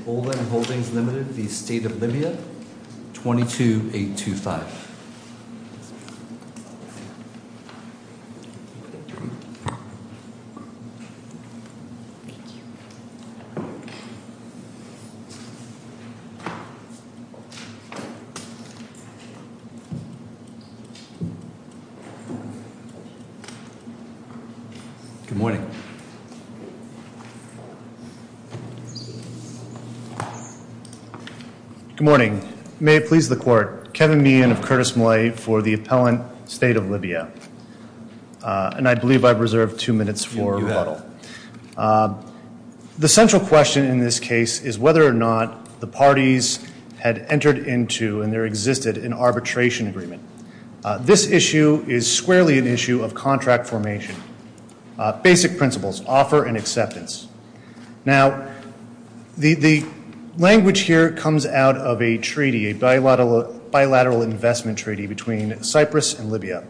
22-825 Good morning. May it please the court, Kevin Meehan of Curtis Malay for the Appellant State of Libya. And I believe I've reserved two minutes for rebuttal. The central question in this case is whether or not the parties had entered into and there existed an arbitration agreement. This issue is squarely an issue of contract formation. Basic principles, offer and acceptance. Now, the language here comes out of a treaty, a bilateral investment treaty between Cyprus and Libya,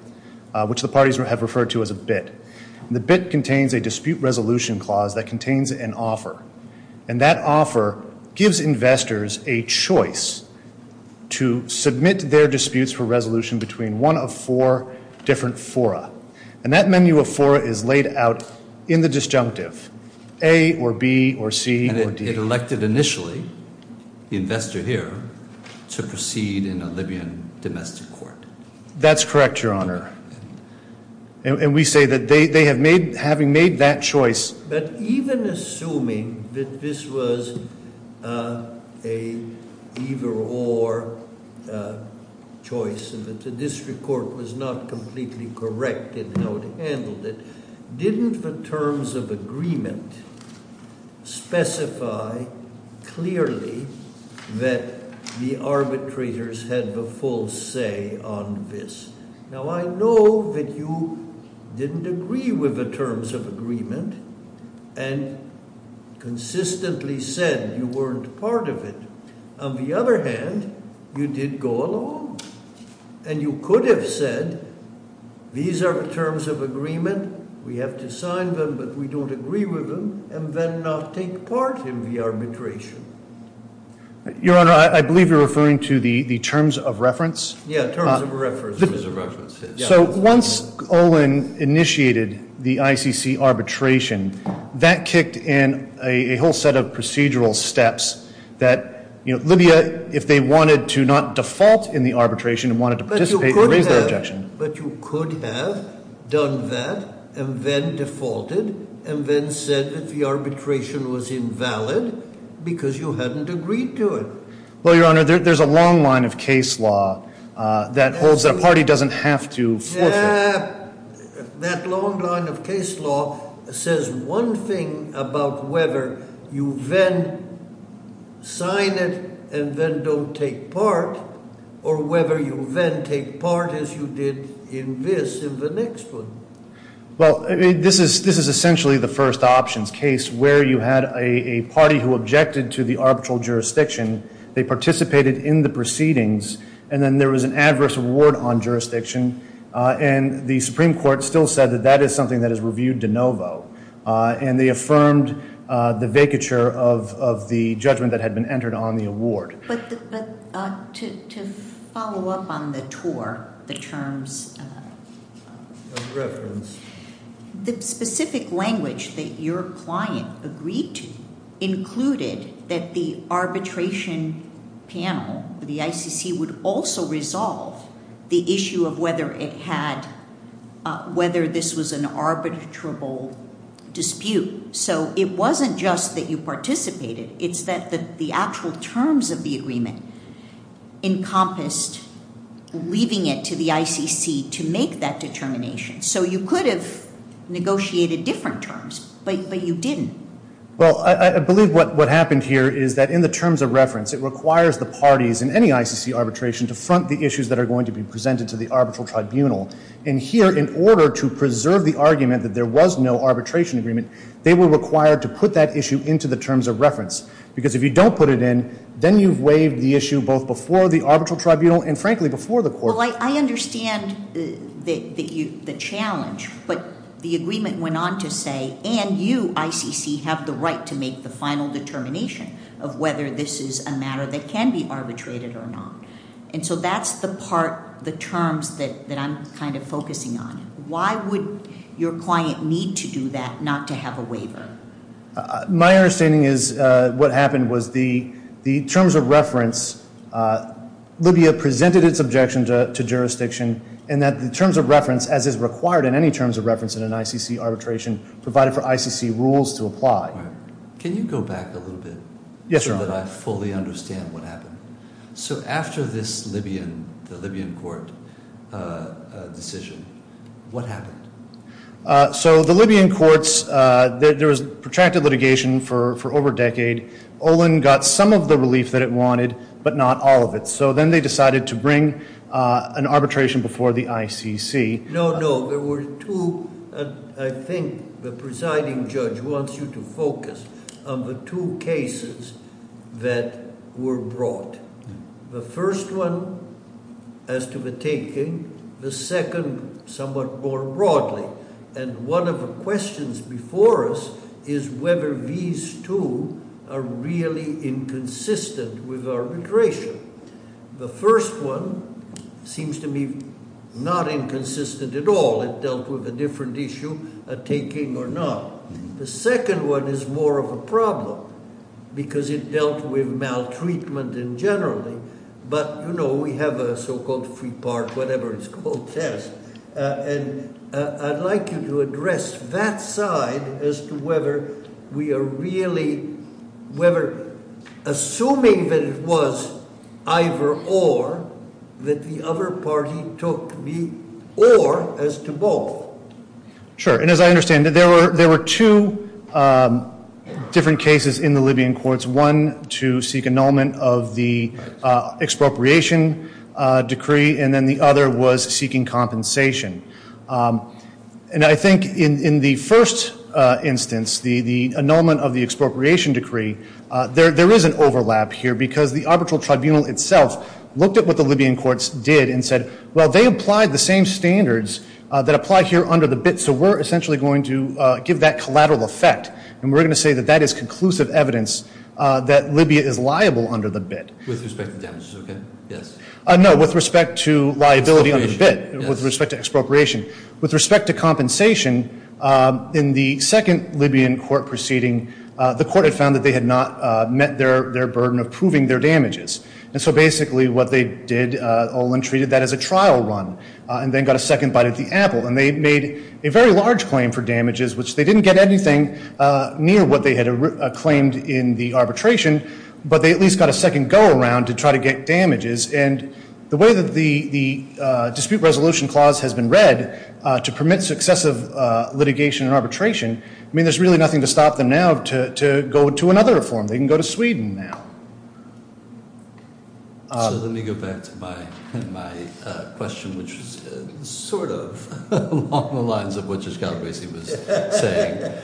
which the parties have referred to as a BIT. The BIT contains a dispute resolution clause that contains an offer. And that offer gives investors a choice to submit their disputes for resolution between one of four different fora. And that menu of fora is laid out in the disjunctive, A or B or C or D. And it elected initially the investor here to proceed in a Libyan domestic court. That's correct, Your Honor. And we say that they have made, having made that choice. But even assuming that this was a either or choice and that the district court was not completely correct in how it handled it, didn't the terms of agreement specify clearly that the arbitrators had the full say on this? Now, I know that you didn't agree with the terms of agreement and consistently said you weren't part of it. On the other hand, you did go along and you could have said, these are the terms of agreement. We have to sign them, but we don't agree with them and then not take part in the arbitration. Your Honor, I believe you're referring to the terms of reference. Yeah, terms of reference. So once Olin initiated the ICC arbitration, that kicked in a whole set of procedural steps that Libya, if they wanted to not default in the arbitration and wanted to participate, would raise their objection. But you could have done that and then defaulted and then said that the arbitration was invalid because you hadn't agreed to it. Well, Your Honor, there's a long line of case law that holds that a party doesn't have to force it. Yeah, that long line of case law says one thing about whether you then sign it and then don't take part or whether you then take part as you did in this, in the next one. Well, this is essentially the first options case where you had a party who objected to the arbitral jurisdiction. They participated in the proceedings, and then there was an adverse reward on jurisdiction. And the Supreme Court still said that that is something that is reviewed de novo. And they affirmed the vacature of the judgment that had been entered on the award. But to follow up on the tour, the terms. The specific language that your client agreed to included that the arbitration panel, the ICC, would also resolve the issue of whether this was an arbitrable dispute. So it wasn't just that you participated, it's that the actual terms of the agreement encompassed leaving it to the ICC to decide whether or not it was appropriate for the ICC to make that determination. So you could have negotiated different terms, but you didn't. Well, I believe what happened here is that in the terms of reference, it requires the parties in any ICC arbitration to front the issues that are going to be presented to the arbitral tribunal. And here, in order to preserve the argument that there was no arbitration agreement, they were required to put that issue into the terms of reference. Because if you don't put it in, then you've waived the issue both before the arbitral tribunal and frankly before the court. Well, I understand the challenge, but the agreement went on to say, and you, ICC, have the right to make the final determination of whether this is a matter that can be arbitrated or not. And so that's the part, the terms, that I'm kind of focusing on. Why would your client need to do that not to have a waiver? My understanding is what happened was the terms of reference, Libya presented its objection to jurisdiction, and that the terms of reference, as is required in any terms of reference in an ICC arbitration, provided for ICC rules to apply. Can you go back a little bit? Yes, Your Honor. So that I fully understand what happened. So after this Libyan, the Libyan court decision, what happened? So the Libyan courts, there was protracted litigation for over a decade. Olin got some of the relief that it wanted, but not all of it. So then they decided to bring an arbitration before the ICC. No, no, there were two, and I think the presiding judge wants you to focus on the two cases that were brought. The first one as to the taking, the second somewhat more broadly. And one of the questions before us is whether these two are really inconsistent with arbitration. The first one seems to me not inconsistent at all. It dealt with a different issue, a taking or not. The second one is more of a problem, because it dealt with maltreatment in general. But we have a so-called free part, whatever it's called, test. And I'd like you to address that side as to whether we are really, whether, assuming that it was either or, that the other party took the or as to both. Sure, and as I understand it, there were two different cases in the Libyan courts. One to seek annulment of the expropriation decree, and then the other was seeking compensation. And I think in the first instance, the annulment of the expropriation decree, there is an overlap here because the arbitral tribunal itself looked at what the Libyan courts did and said, well, they applied the same standards that apply here under the BIT, so we're essentially going to give that collateral effect. And we're going to say that that is conclusive evidence that Libya is liable under the BIT. With respect to damages, okay, yes. No, with respect to liability under the BIT, with respect to expropriation. With respect to compensation, in the second Libyan court proceeding, the court had found that they had not met their burden of proving their damages. And so basically what they did, Olin treated that as a trial run, and then got a second bite at the apple. And they made a very large claim for damages, which they didn't get anything near what they had claimed in the arbitration. But they at least got a second go around to try to get damages. And the way that the dispute resolution clause has been read to permit successive litigation and arbitration, I mean, there's really nothing to stop them now to go to another reform. They can go to Sweden now. So let me go back to my question, which was sort of along the lines of what Judge Galbraith was saying.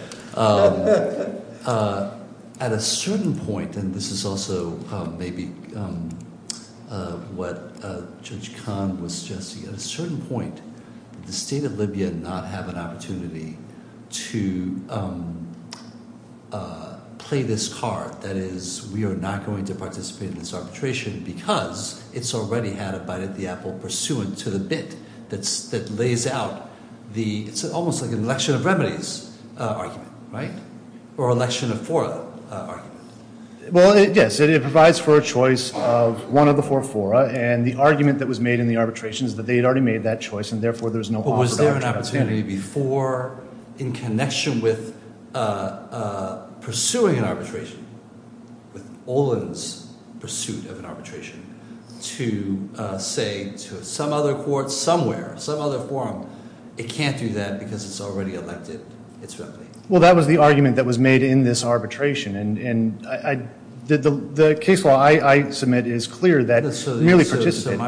At a certain point, and this is also maybe what Judge Kahn was suggesting. At a certain point, did the state of Libya not have an opportunity to play this card, that is, we are not going to participate in this arbitration. Because it's already had a bite at the apple pursuant to the bit that lays out the, it's almost like an election of remedies argument, right? Or election of four arguments. Well, yes, it provides for a choice of one of the four fora. And the argument that was made in the arbitration is that they had already made that choice, and therefore there's no- But was there an opportunity before, in connection with pursuing an arbitration, with Olin's pursuit of an arbitration, to say to some other court somewhere, some other forum, it can't do that because it's already elected its rep. Well, that was the argument that was made in this arbitration. And the case law I submit is clear that merely participant-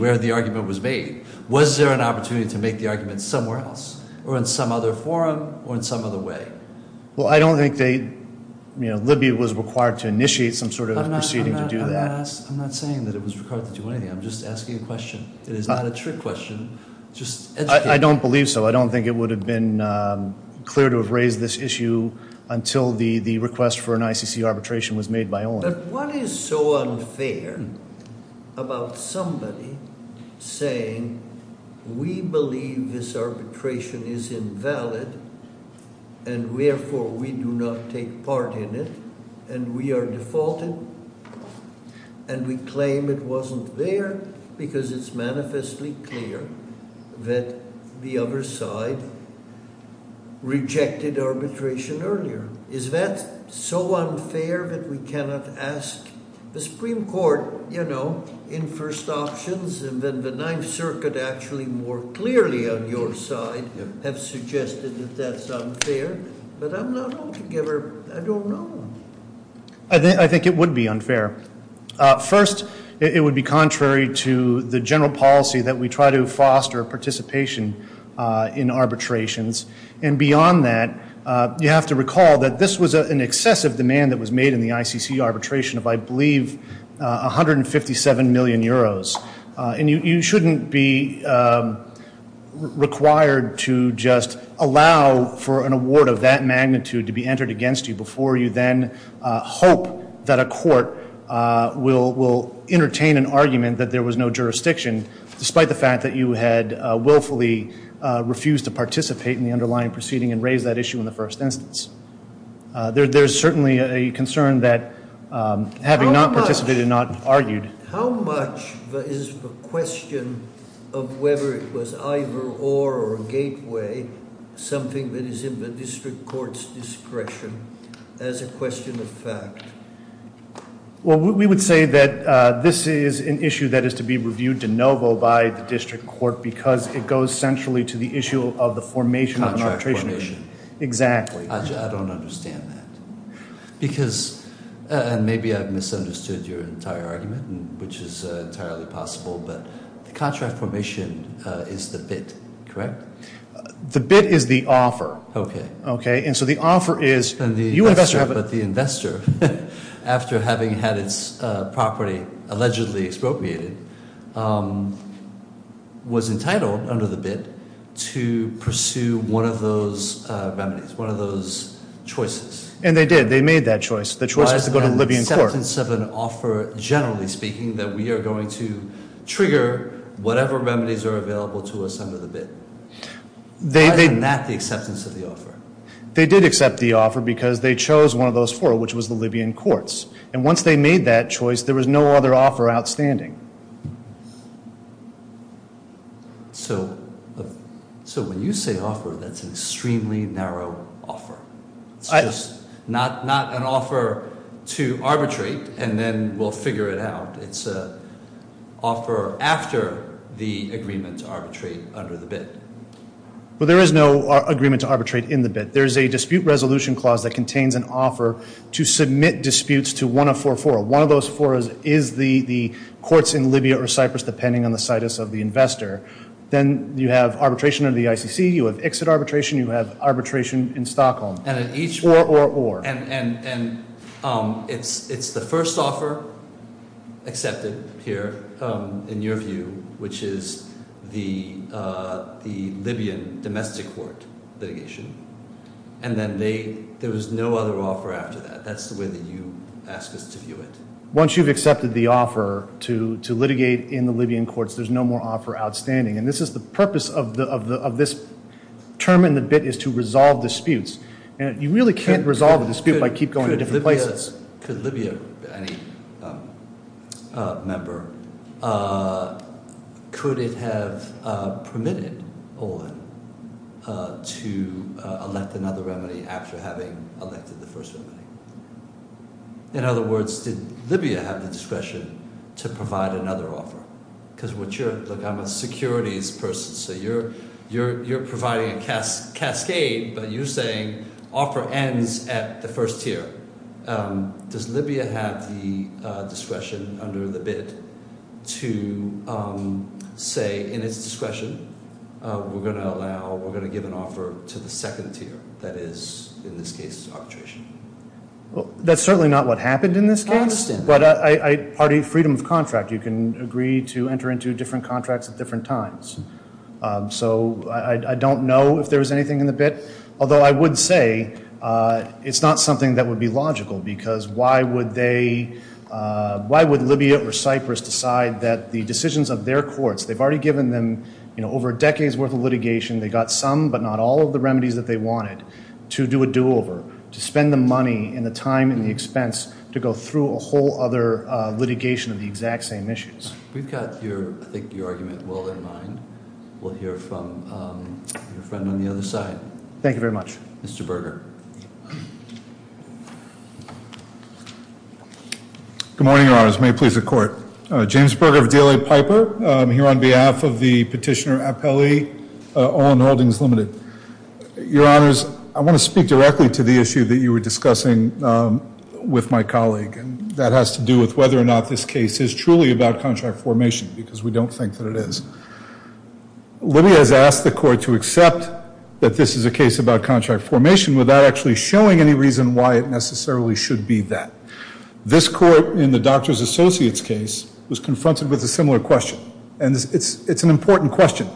Where the argument was made. Was there an opportunity to make the argument somewhere else, or in some other forum, or in some other way? Well, I don't think they, you know, Libya was required to initiate some sort of proceeding to do that. I'm not saying that it was required to do anything. I'm just asking a question. It is not a trick question. Just educate- I don't believe so. I don't think it would have been clear to have raised this issue until the request for an ICC arbitration was made by Olin. But what is so unfair about somebody saying we believe this arbitration is invalid and therefore we do not take part in it and we are defaulted and we claim it wasn't there because it's manifestly clear that the other side rejected arbitration earlier? Is that so unfair that we cannot ask the Supreme Court, you know, in first options and then the Ninth Circuit actually more clearly on your side have suggested that that's unfair? But I'm not altogether- I don't know. I think it would be unfair. First, it would be contrary to the general policy that we try to foster participation in arbitrations. And beyond that, you have to recall that this was an excessive demand that was made in the ICC arbitration of, I believe, 157 million euros. And you shouldn't be required to just allow for an award of that magnitude to be entered against you before you then hope that a court will entertain an argument that there was no jurisdiction despite the fact that you had willfully refused to participate in the underlying proceeding and raise that issue in the first instance. There's certainly a concern that having not participated, not argued- How much is the question of whether it was either or or a gateway, something that is in the district court's discretion as a question of fact? Well, we would say that this is an issue that is to be reviewed de novo by the district court because it goes centrally to the issue of the formation of an arbitration. Contract formation. Exactly. I don't understand that. Because, and maybe I've misunderstood your entire argument, which is entirely possible, but the contract formation is the bid, correct? The bid is the offer. Okay. Okay, and so the offer is- And the investor, but the investor. After having had its property allegedly expropriated, was entitled, under the bid, to pursue one of those remedies, one of those choices. And they did. They made that choice. The choice was to go to the Libyan court. Why is that an acceptance of an offer, generally speaking, that we are going to trigger whatever remedies are available to us under the bid? Why is that not the acceptance of the offer? They did accept the offer because they chose one of those four, which was the Libyan courts. And once they made that choice, there was no other offer outstanding. So when you say offer, that's an extremely narrow offer. It's just not an offer to arbitrate and then we'll figure it out. It's an offer after the agreement to arbitrate under the bid. Well, there is no agreement to arbitrate in the bid. There is a dispute resolution clause that contains an offer to submit disputes to 1044. One of those four is the courts in Libya or Cyprus, depending on the situs of the investor. Then you have arbitration under the ICC. You have exit arbitration. You have arbitration in Stockholm. And at each- Or, or, or. And it's the first offer accepted here, in your view, which is the Libyan domestic court litigation. And then they, there was no other offer after that. That's the way that you ask us to view it. Once you've accepted the offer to litigate in the Libyan courts, there's no more offer outstanding. And this is the purpose of this term in the bid is to resolve disputes. And you really can't resolve a dispute by keep going to different places. Could Libya, any member, could it have permitted Olin to elect another remedy after having elected the first remedy? In other words, did Libya have the discretion to provide another offer? Because what you're, look, I'm a securities person. So you're providing a cascade, but you're saying offer ends at the first tier. Does Libya have the discretion under the bid to say, in its discretion, we're going to allow, we're going to give an offer to the second tier? That is, in this case, arbitration. Well, that's certainly not what happened in this case. I understand. But I, party freedom of contract. You can agree to enter into different contracts at different times. So I don't know if there was anything in the bid. Although I would say it's not something that would be logical. Because why would they, why would Libya or Cyprus decide that the decisions of their courts, they've already given them, you know, over a decade's worth of litigation. They got some but not all of the remedies that they wanted to do a do-over. To spend the money and the time and the expense to go through a whole other litigation of the exact same issues. We've got your, I think your argument well in mind. We'll hear from your friend on the other side. Thank you very much. Mr. Berger. Good morning, your honors. May it please the court. James Berger of DLA Piper. Here on behalf of the petitioner appellee, Owen Holdings Limited. Your honors, I want to speak directly to the issue that you were discussing with my colleague. And that has to do with whether or not this case is truly about contract formation. Because we don't think that it is. Libya has asked the court to accept that this is a case about contract formation without actually showing any reason why it necessarily should be that. This court in the doctor's associates case was confronted with a similar question. And it's an important question.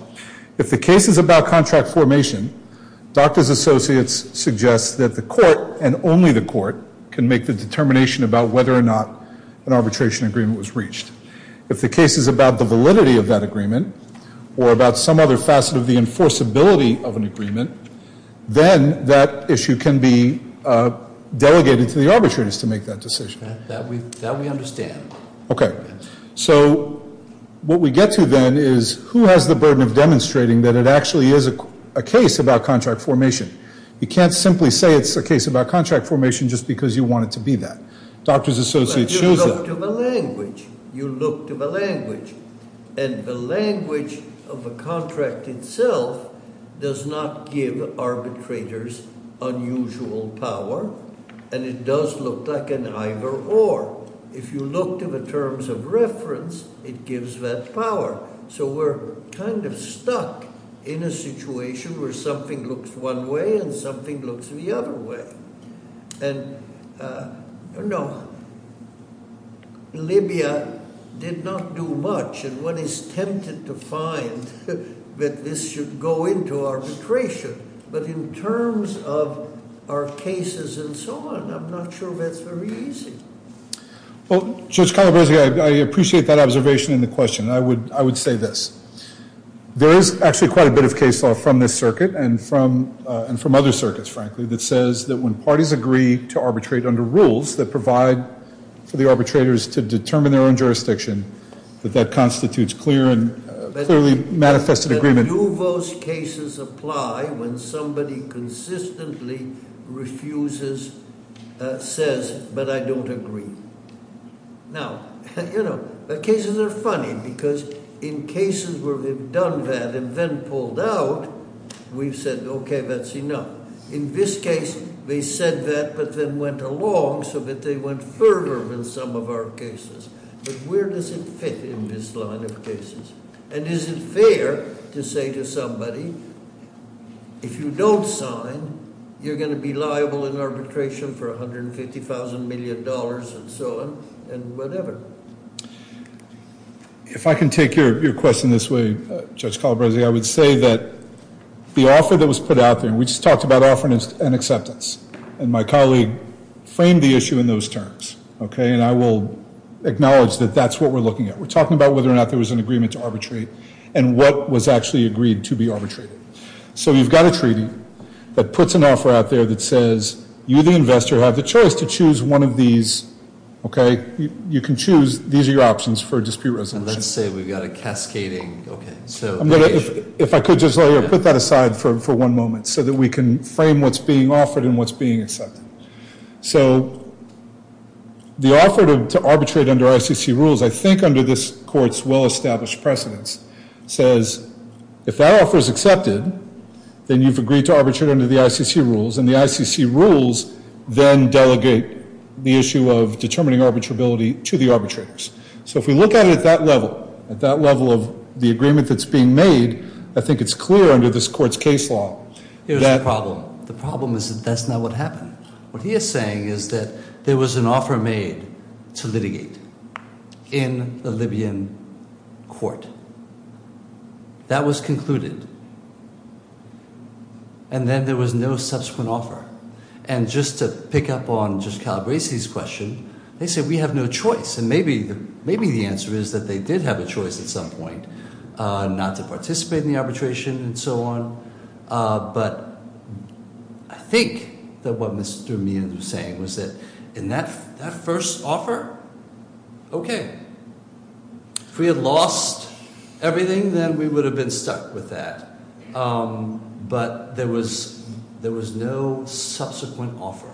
If the case is about contract formation, doctor's associates suggests that the court and only the court can make the determination about whether or not an arbitration agreement was reached. If the case is about the validity of that agreement, or about some other facet of the enforceability of an agreement, then that issue can be delegated to the arbitrators to make that decision. That we understand. Okay. So what we get to then is who has the burden of demonstrating that it actually is a case about contract formation. You can't simply say it's a case about contract formation just because you want it to be that. Doctor's associates shows that- You look to the language. You look to the language. And the language of the contract itself does not give arbitrators unusual power. And it does look like an either or. If you look to the terms of reference, it gives that power. So we're kind of stuck in a situation where something looks one way and something looks the other way. And no, Libya did not do much. And one is tempted to find that this should go into arbitration. But in terms of our cases and so on, I'm not sure that's very easy. Well, Judge Calabresi, I appreciate that observation and the question. I would say this. There is actually quite a bit of case law from this circuit and from other circuits, frankly, that says that when parties agree to arbitrate under rules that provide for the arbitrators to determine their own jurisdiction, that that constitutes clear and clearly manifested agreement. Do those cases apply when somebody consistently refuses, says, but I don't agree? Now, you know, the cases are funny because in cases where we've done that and then pulled out, we've said, okay, that's enough. In this case, they said that, but then went along so that they went further than some of our cases. But where does it fit in this line of cases? And is it fair to say to somebody, if you don't sign, you're going to be liable in arbitration for $150,000 million and so on and whatever? If I can take your question this way, Judge Calabresi, I would say that the offer that was put out there, and we just talked about offering an acceptance, and my colleague framed the issue in those terms, okay? And I will acknowledge that that's what we're looking at. We're talking about whether or not there was an agreement to arbitrate and what was actually agreed to be arbitrated. So you've got a treaty that puts an offer out there that says you, the investor, have the choice to choose one of these, okay? You can choose. These are your options for dispute resolution. And let's say we've got a cascading, okay. If I could just put that aside for one moment so that we can frame what's being offered and what's being accepted. So the offer to arbitrate under ICC rules, I think under this court's well-established precedence, says if that offer is accepted, then you've agreed to arbitrate under the ICC rules. And the ICC rules then delegate the issue of determining arbitrability to the arbitrators. So if we look at it at that level, at that level of the agreement that's being made, I think it's clear under this court's case law that- There's a problem. The problem is that that's not what happened. What he is saying is that there was an offer made to litigate in the Libyan court. That was concluded. And then there was no subsequent offer. And just to pick up on Judge Calabresi's question, they said we have no choice. And maybe the answer is that they did have a choice at some point, not to participate in the arbitration and so on. But I think that what Mr. Mia was saying was that in that first offer, okay. If we had lost everything, then we would have been stuck with that. But there was no subsequent offer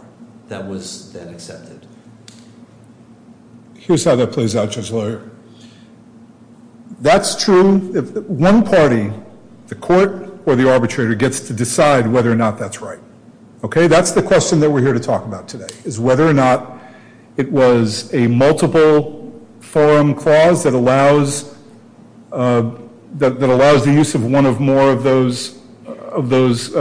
that was then accepted. Here's how that plays out, Judge Lawyer. That's true if one party, the court or the arbitrator gets to decide whether or not that's right. Okay, that's the question that we're here to talk about today, is whether or not it was a multiple forum clause that allows the use of one of more of those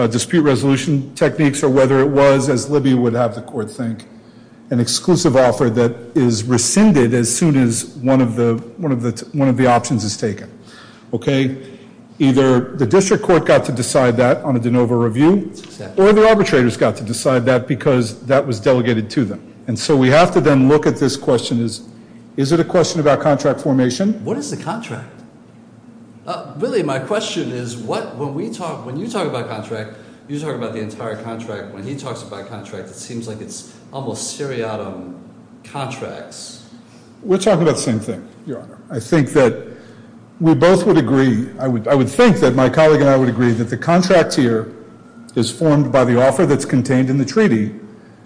dispute resolution techniques or whether it was, as Libby would have the court think, an exclusive offer that is rescinded as soon as one of the options is taken. Okay, either the district court got to decide that on a de novo review or the arbitrators got to decide that because that was delegated to them. And so we have to then look at this question as, is it a question about contract formation? What is the contract? Really, my question is, when you talk about contract, you talk about the entire contract. When he talks about contract, it seems like it's almost seriatim contracts. We're talking about the same thing, Your Honor. I think that we both would agree, I would think that my colleague and I would agree that the contract here is formed by the offer that's contained in the treaty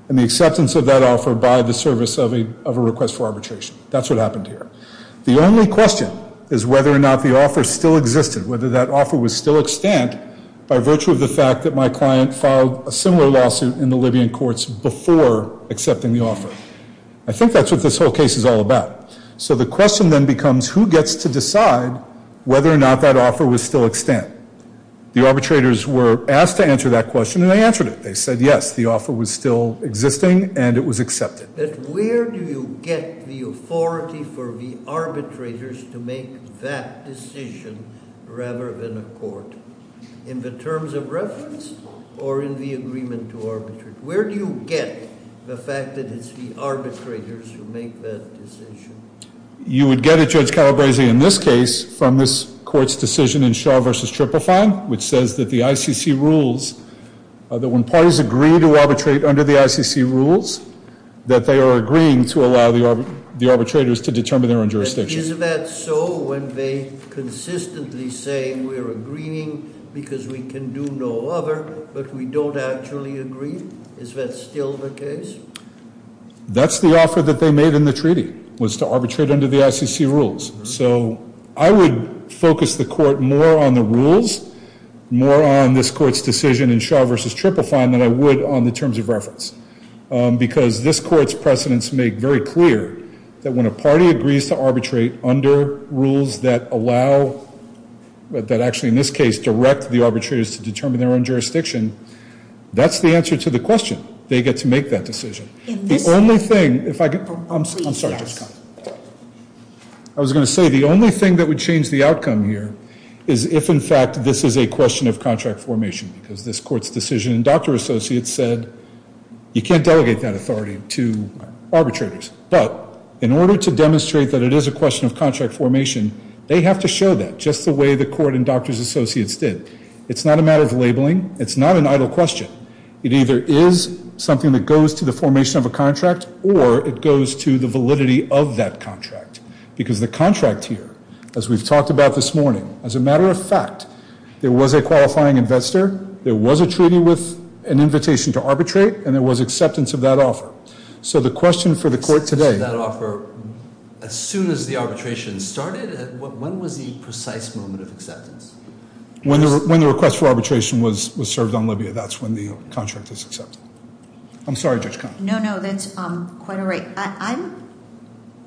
and the acceptance of that offer by the service of a request for arbitration. That's what happened here. The only question is whether or not the offer still existed, whether that offer was still extant by virtue of the fact that my client filed a similar lawsuit in the Libyan courts before accepting the offer. I think that's what this whole case is all about. So the question then becomes, who gets to decide whether or not that offer was still extant? The arbitrators were asked to answer that question, and they answered it. They said, yes, the offer was still existing, and it was accepted. But where do you get the authority for the arbitrators to make that decision rather than a court? In the terms of reference or in the agreement to arbitrate? Where do you get the fact that it's the arbitrators who make that decision? You would get it, Judge Calabresi, in this case from this court's decision in Shaw v. Triple Fine, which says that the ICC rules, that when parties agree to arbitrate under the ICC rules, that they are agreeing to allow the arbitrators to determine their own jurisdiction. Is that so when they consistently say, we're agreeing because we can do no other, but we don't actually agree? Is that still the case? That's the offer that they made in the treaty, was to arbitrate under the ICC rules. So I would focus the court more on the rules, more on this court's decision in Shaw v. Triple Fine, than I would on the terms of reference. Because this court's precedents make very clear that when a party agrees to arbitrate under rules that allow, that actually in this case direct the arbitrators to determine their own jurisdiction, that's the answer to the question. They get to make that decision. The only thing, if I could, I'm sorry, I was going to say the only thing that would change the outcome here is if in fact this is a question of contract formation, because this court's decision, doctor associates said, you can't delegate that authority to arbitrators. But in order to demonstrate that it is a question of contract formation, they have to show that just the way the court and doctor's associates did. It's not a matter of labeling. It's not an idle question. It either is something that goes to the formation of a contract, or it goes to the validity of that contract. Because the contract here, as we've talked about this morning, as a matter of fact, there was a qualifying investor, there was a treaty with an invitation to arbitrate, and there was acceptance of that offer. So the question for the court today- Acceptance of that offer as soon as the arbitration started? When was the precise moment of acceptance? When the request for arbitration was served on Libya, that's when the contract is accepted. I'm sorry, Judge Kahn. No, no, that's quite all right.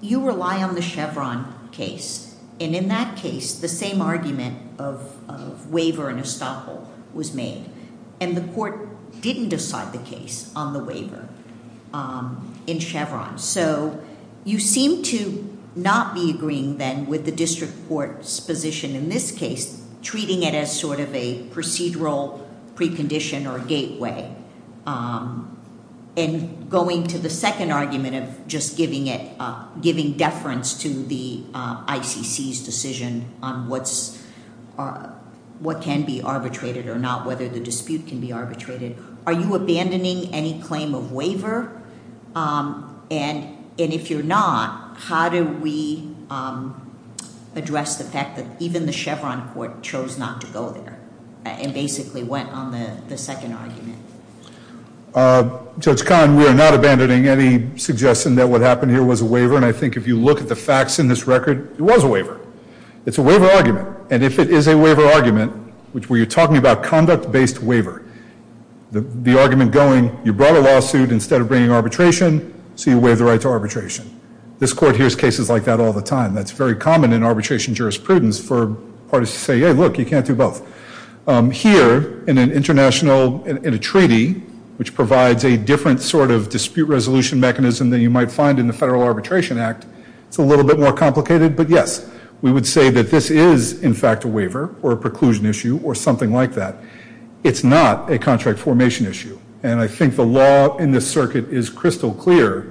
You rely on the Chevron case, and in that case, the same argument of waiver and estoppel was made. And the court didn't decide the case on the waiver in Chevron. So you seem to not be agreeing then with the district court's position in this case, treating it as sort of a procedural precondition or a gateway. And going to the second argument of just giving deference to the ICC's decision on what can be arbitrated or not, whether the dispute can be arbitrated, are you abandoning any claim of waiver? And if you're not, how do we address the fact that even the Chevron court chose not to go there and basically went on the second argument? Judge Kahn, we are not abandoning any suggestion that what happened here was a waiver. And I think if you look at the facts in this record, it was a waiver. It's a waiver argument. And if it is a waiver argument, which we're talking about conduct-based waiver, the argument going, you brought a lawsuit instead of bringing arbitration, so you waive the right to arbitration. This court hears cases like that all the time. That's very common in arbitration jurisprudence for parties to say, hey, look, you can't do both. Here, in a treaty which provides a different sort of dispute resolution mechanism than you might find in the Federal Arbitration Act, it's a little bit more complicated. But yes, we would say that this is, in fact, a waiver or a preclusion issue or something like that. It's not a contract formation issue. And I think the law in this circuit is crystal clear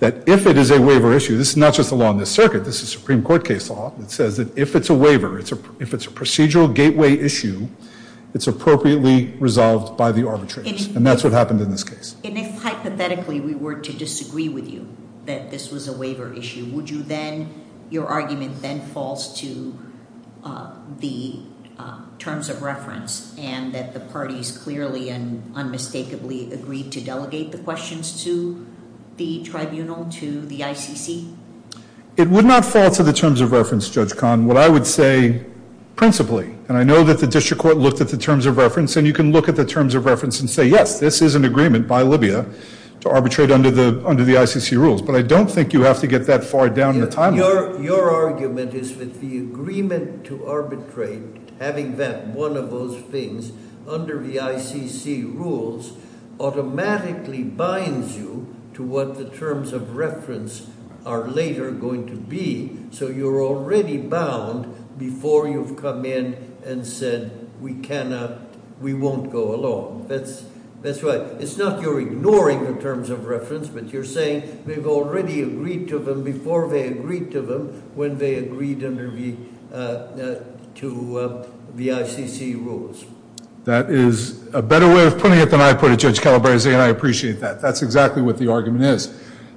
that if it is a waiver issue, this is not just a law in this circuit. This is Supreme Court case law. It says that if it's a waiver, if it's a procedural gateway issue, it's appropriately resolved by the arbitrators. And that's what happened in this case. And if, hypothetically, we were to disagree with you that this was a waiver issue, would you then, your argument then falls to the terms of reference and that the parties clearly and unmistakably agreed to delegate the questions to the tribunal, to the ICC? It would not fall to the terms of reference, Judge Kahn, what I would say principally. And I know that the district court looked at the terms of reference. And you can look at the terms of reference and say, yes, this is an agreement by Libya to arbitrate under the ICC rules. But I don't think you have to get that far down the timeline. Your argument is that the agreement to arbitrate, having that one of those things under the ICC rules are later going to be. So you're already bound before you've come in and said we cannot, we won't go along. That's right. It's not you're ignoring the terms of reference, but you're saying they've already agreed to them before they agreed to them when they agreed to the ICC rules. That is a better way of putting it than I put it, Judge Calabresi. And I appreciate that. That's exactly what the argument is.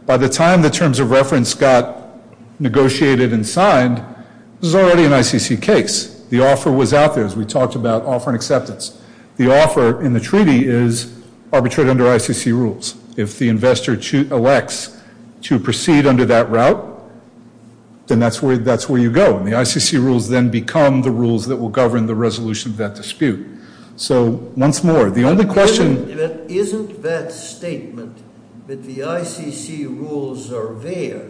By the time the terms of reference got negotiated and signed, it was already an ICC case. The offer was out there as we talked about offer and acceptance. The offer in the treaty is arbitrate under ICC rules. If the investor elects to proceed under that route, then that's where you go. And the ICC rules then become the rules that will govern the resolution of that dispute. So once more, the only question. Isn't that statement that the ICC rules are there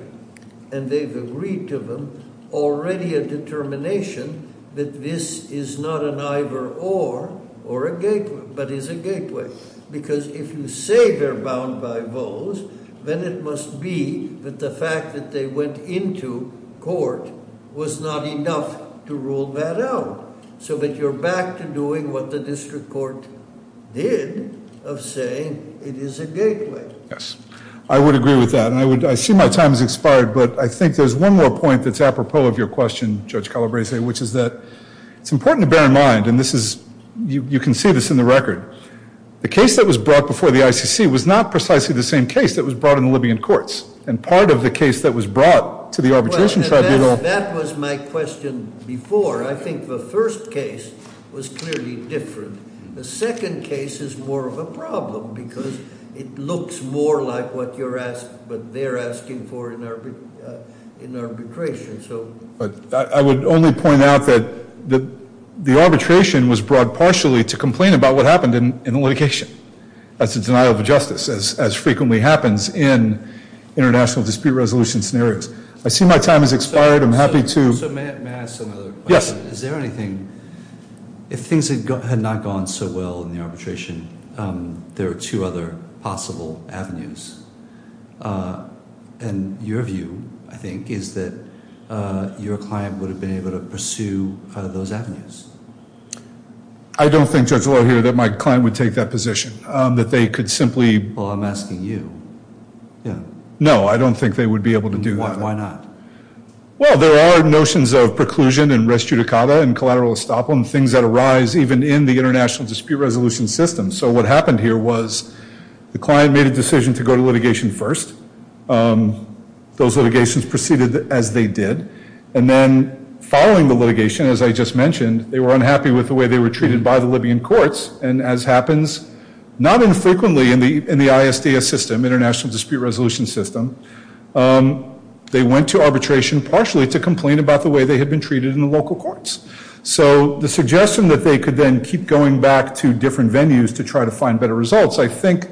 and they've agreed to them already a determination that this is not an either or or a gateway, but is a gateway. Because if you say they're bound by those, then it must be that the fact that they went into court was not enough to rule that out. So that you're back to doing what the district court did of saying it is a gateway. Yes, I would agree with that. And I see my time has expired. But I think there's one more point that's apropos of your question, Judge Calabresi, which is that it's important to bear in mind. And you can see this in the record. The case that was brought before the ICC was not precisely the same case that was brought in the Libyan courts. And part of the case that was brought to the arbitration tribunal. That was my question before. I think the first case was clearly different. The second case is more of a problem. Because it looks more like what they're asking for in arbitration. But I would only point out that the arbitration was brought partially to complain about what happened in the litigation. That's a denial of justice, as frequently happens in international dispute resolution scenarios. I see my time has expired. I'm happy to- So may I ask another question? Is there anything- if things had not gone so well in the arbitration, there are two other possible avenues. And your view, I think, is that your client would have been able to pursue those avenues. I don't think, Judge Laudio, that my client would take that position. That they could simply- Well, I'm asking you. No, I don't think they would be able to do that. Why not? Well, there are notions of preclusion and res judicata and collateral estoppel and things that arise even in the international dispute resolution system. So what happened here was the client made a decision to go to litigation first. Those litigations proceeded as they did. And then following the litigation, as I just mentioned, they were unhappy with the way they were treated by the Libyan courts. And as happens, not infrequently in the ISDS system, International Dispute Resolution System, they went to arbitration partially to complain about the way they had been treated in the local courts. So the suggestion that they could then keep going back to different venues to try to find better results, I think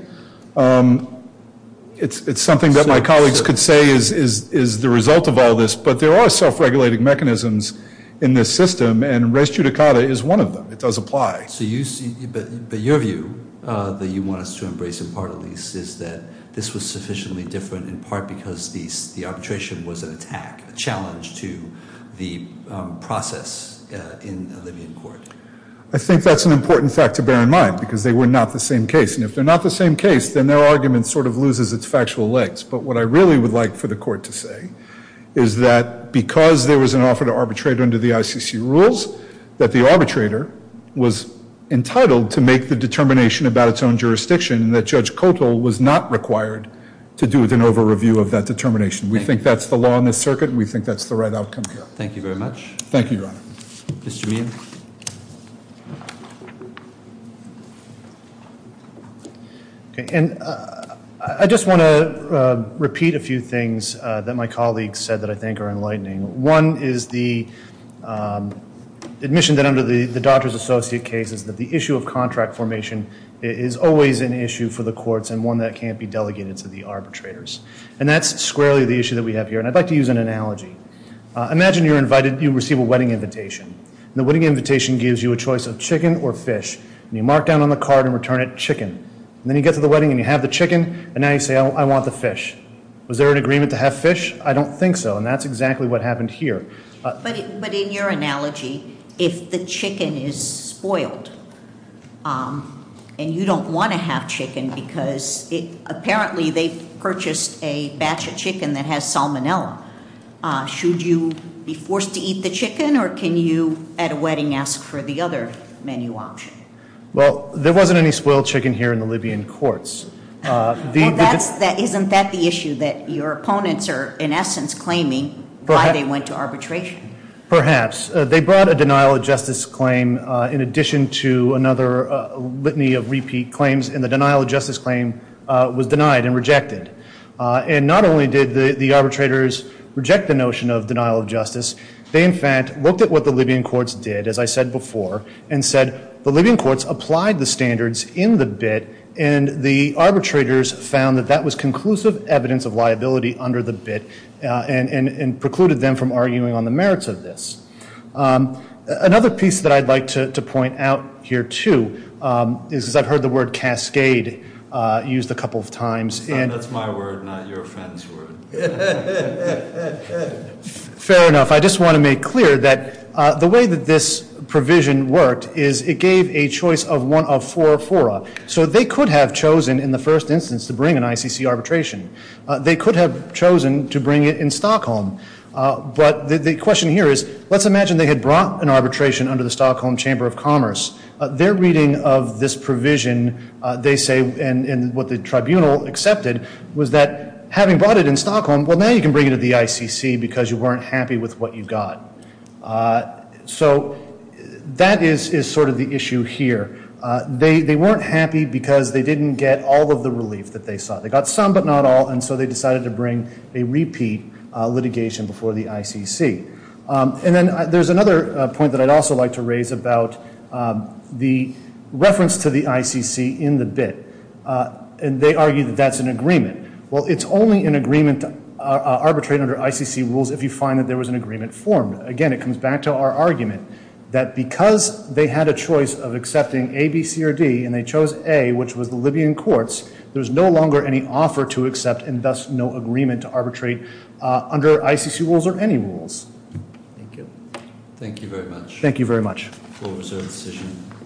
it's something that my colleagues could say is the result of all this. But there are self-regulating mechanisms in this system. And res judicata is one of them. It does apply. But your view that you want us to embrace, in part at least, is that this was sufficiently different in part because the arbitration was an attack, a challenge to the process in a Libyan court. I think that's an important fact to bear in mind because they were not the same case. And if they're not the same case, then their argument sort of loses its factual legs. But what I really would like for the court to say is that because there was an offer to arbitrate under the ICC rules, that the arbitrator was entitled to make the determination about its own jurisdiction and that Judge Kotel was not required to do an over-review of that determination. We think that's the law in this circuit. We think that's the right outcome here. Thank you very much. Thank you, Your Honor. Mr. Meehan. And I just want to repeat a few things that my colleagues said that I think are enlightening. One is the admission that under the doctor's associate case is that the issue of contract formation is always an issue for the courts and one that can't be delegated to the arbitrators. And that's squarely the issue that we have here. And I'd like to use an analogy. Imagine you receive a wedding invitation. The wedding invitation gives you a choice of chicken or fish. And you mark down on the card and return it chicken. And then you get to the wedding and you have the chicken. And now you say, oh, I want the fish. Was there an agreement to have fish? I don't think so. And that's exactly what happened here. But in your analogy, if the chicken is spoiled and you don't want to have chicken, because apparently they purchased a batch of chicken that has salmonella, should you be forced to eat the chicken? Or can you at a wedding ask for the other menu option? Well, there wasn't any spoiled chicken here in the Libyan courts. Well, isn't that the issue? That your opponents are, in essence, claiming why they went to arbitration? Perhaps. They brought a denial of justice claim in addition to another litany of repeat claims. And the denial of justice claim was denied and rejected. And not only did the arbitrators reject the notion of denial of justice, they, in fact, looked at what the Libyan courts did, as I said before, and said the Libyan courts applied the standards in the bit. And the arbitrators found that that was conclusive evidence of liability under the bit and precluded them from arguing on the merits of this. Another piece that I'd like to point out here, too, is I've heard the word cascade used a couple of times. And that's my word, not your friend's word. Fair enough. I just want to make clear that the way that this provision worked is it gave a choice of one of four fora. So they could have chosen, in the first instance, to bring an ICC arbitration. They could have chosen to bring it in Stockholm. But the question here is, let's imagine they had brought an arbitration under the Stockholm Chamber of Commerce. Their reading of this provision, they say, and what the tribunal accepted, was that having brought it in Stockholm, well, now you can bring it to the ICC because you weren't happy with what you got. So that is sort of the issue here. They weren't happy because they didn't get all of the relief that they saw. They got some, but not all. And so they decided to bring a repeat litigation before the ICC. And then there's another point that I'd also like to raise about the reference to the ICC in the bit. And they argue that that's an agreement. Well, it's only an agreement to arbitrate under ICC rules if you find that there was an agreement formed. Again, it comes back to our argument that because they had a choice of accepting A, B, C, or D, and they chose A, which was the Libyan courts, there was no longer any offer to accept and thus no agreement to arbitrate under ICC rules or any rules. Thank you. Thank you very much. Thank you very much. All reserve the decision.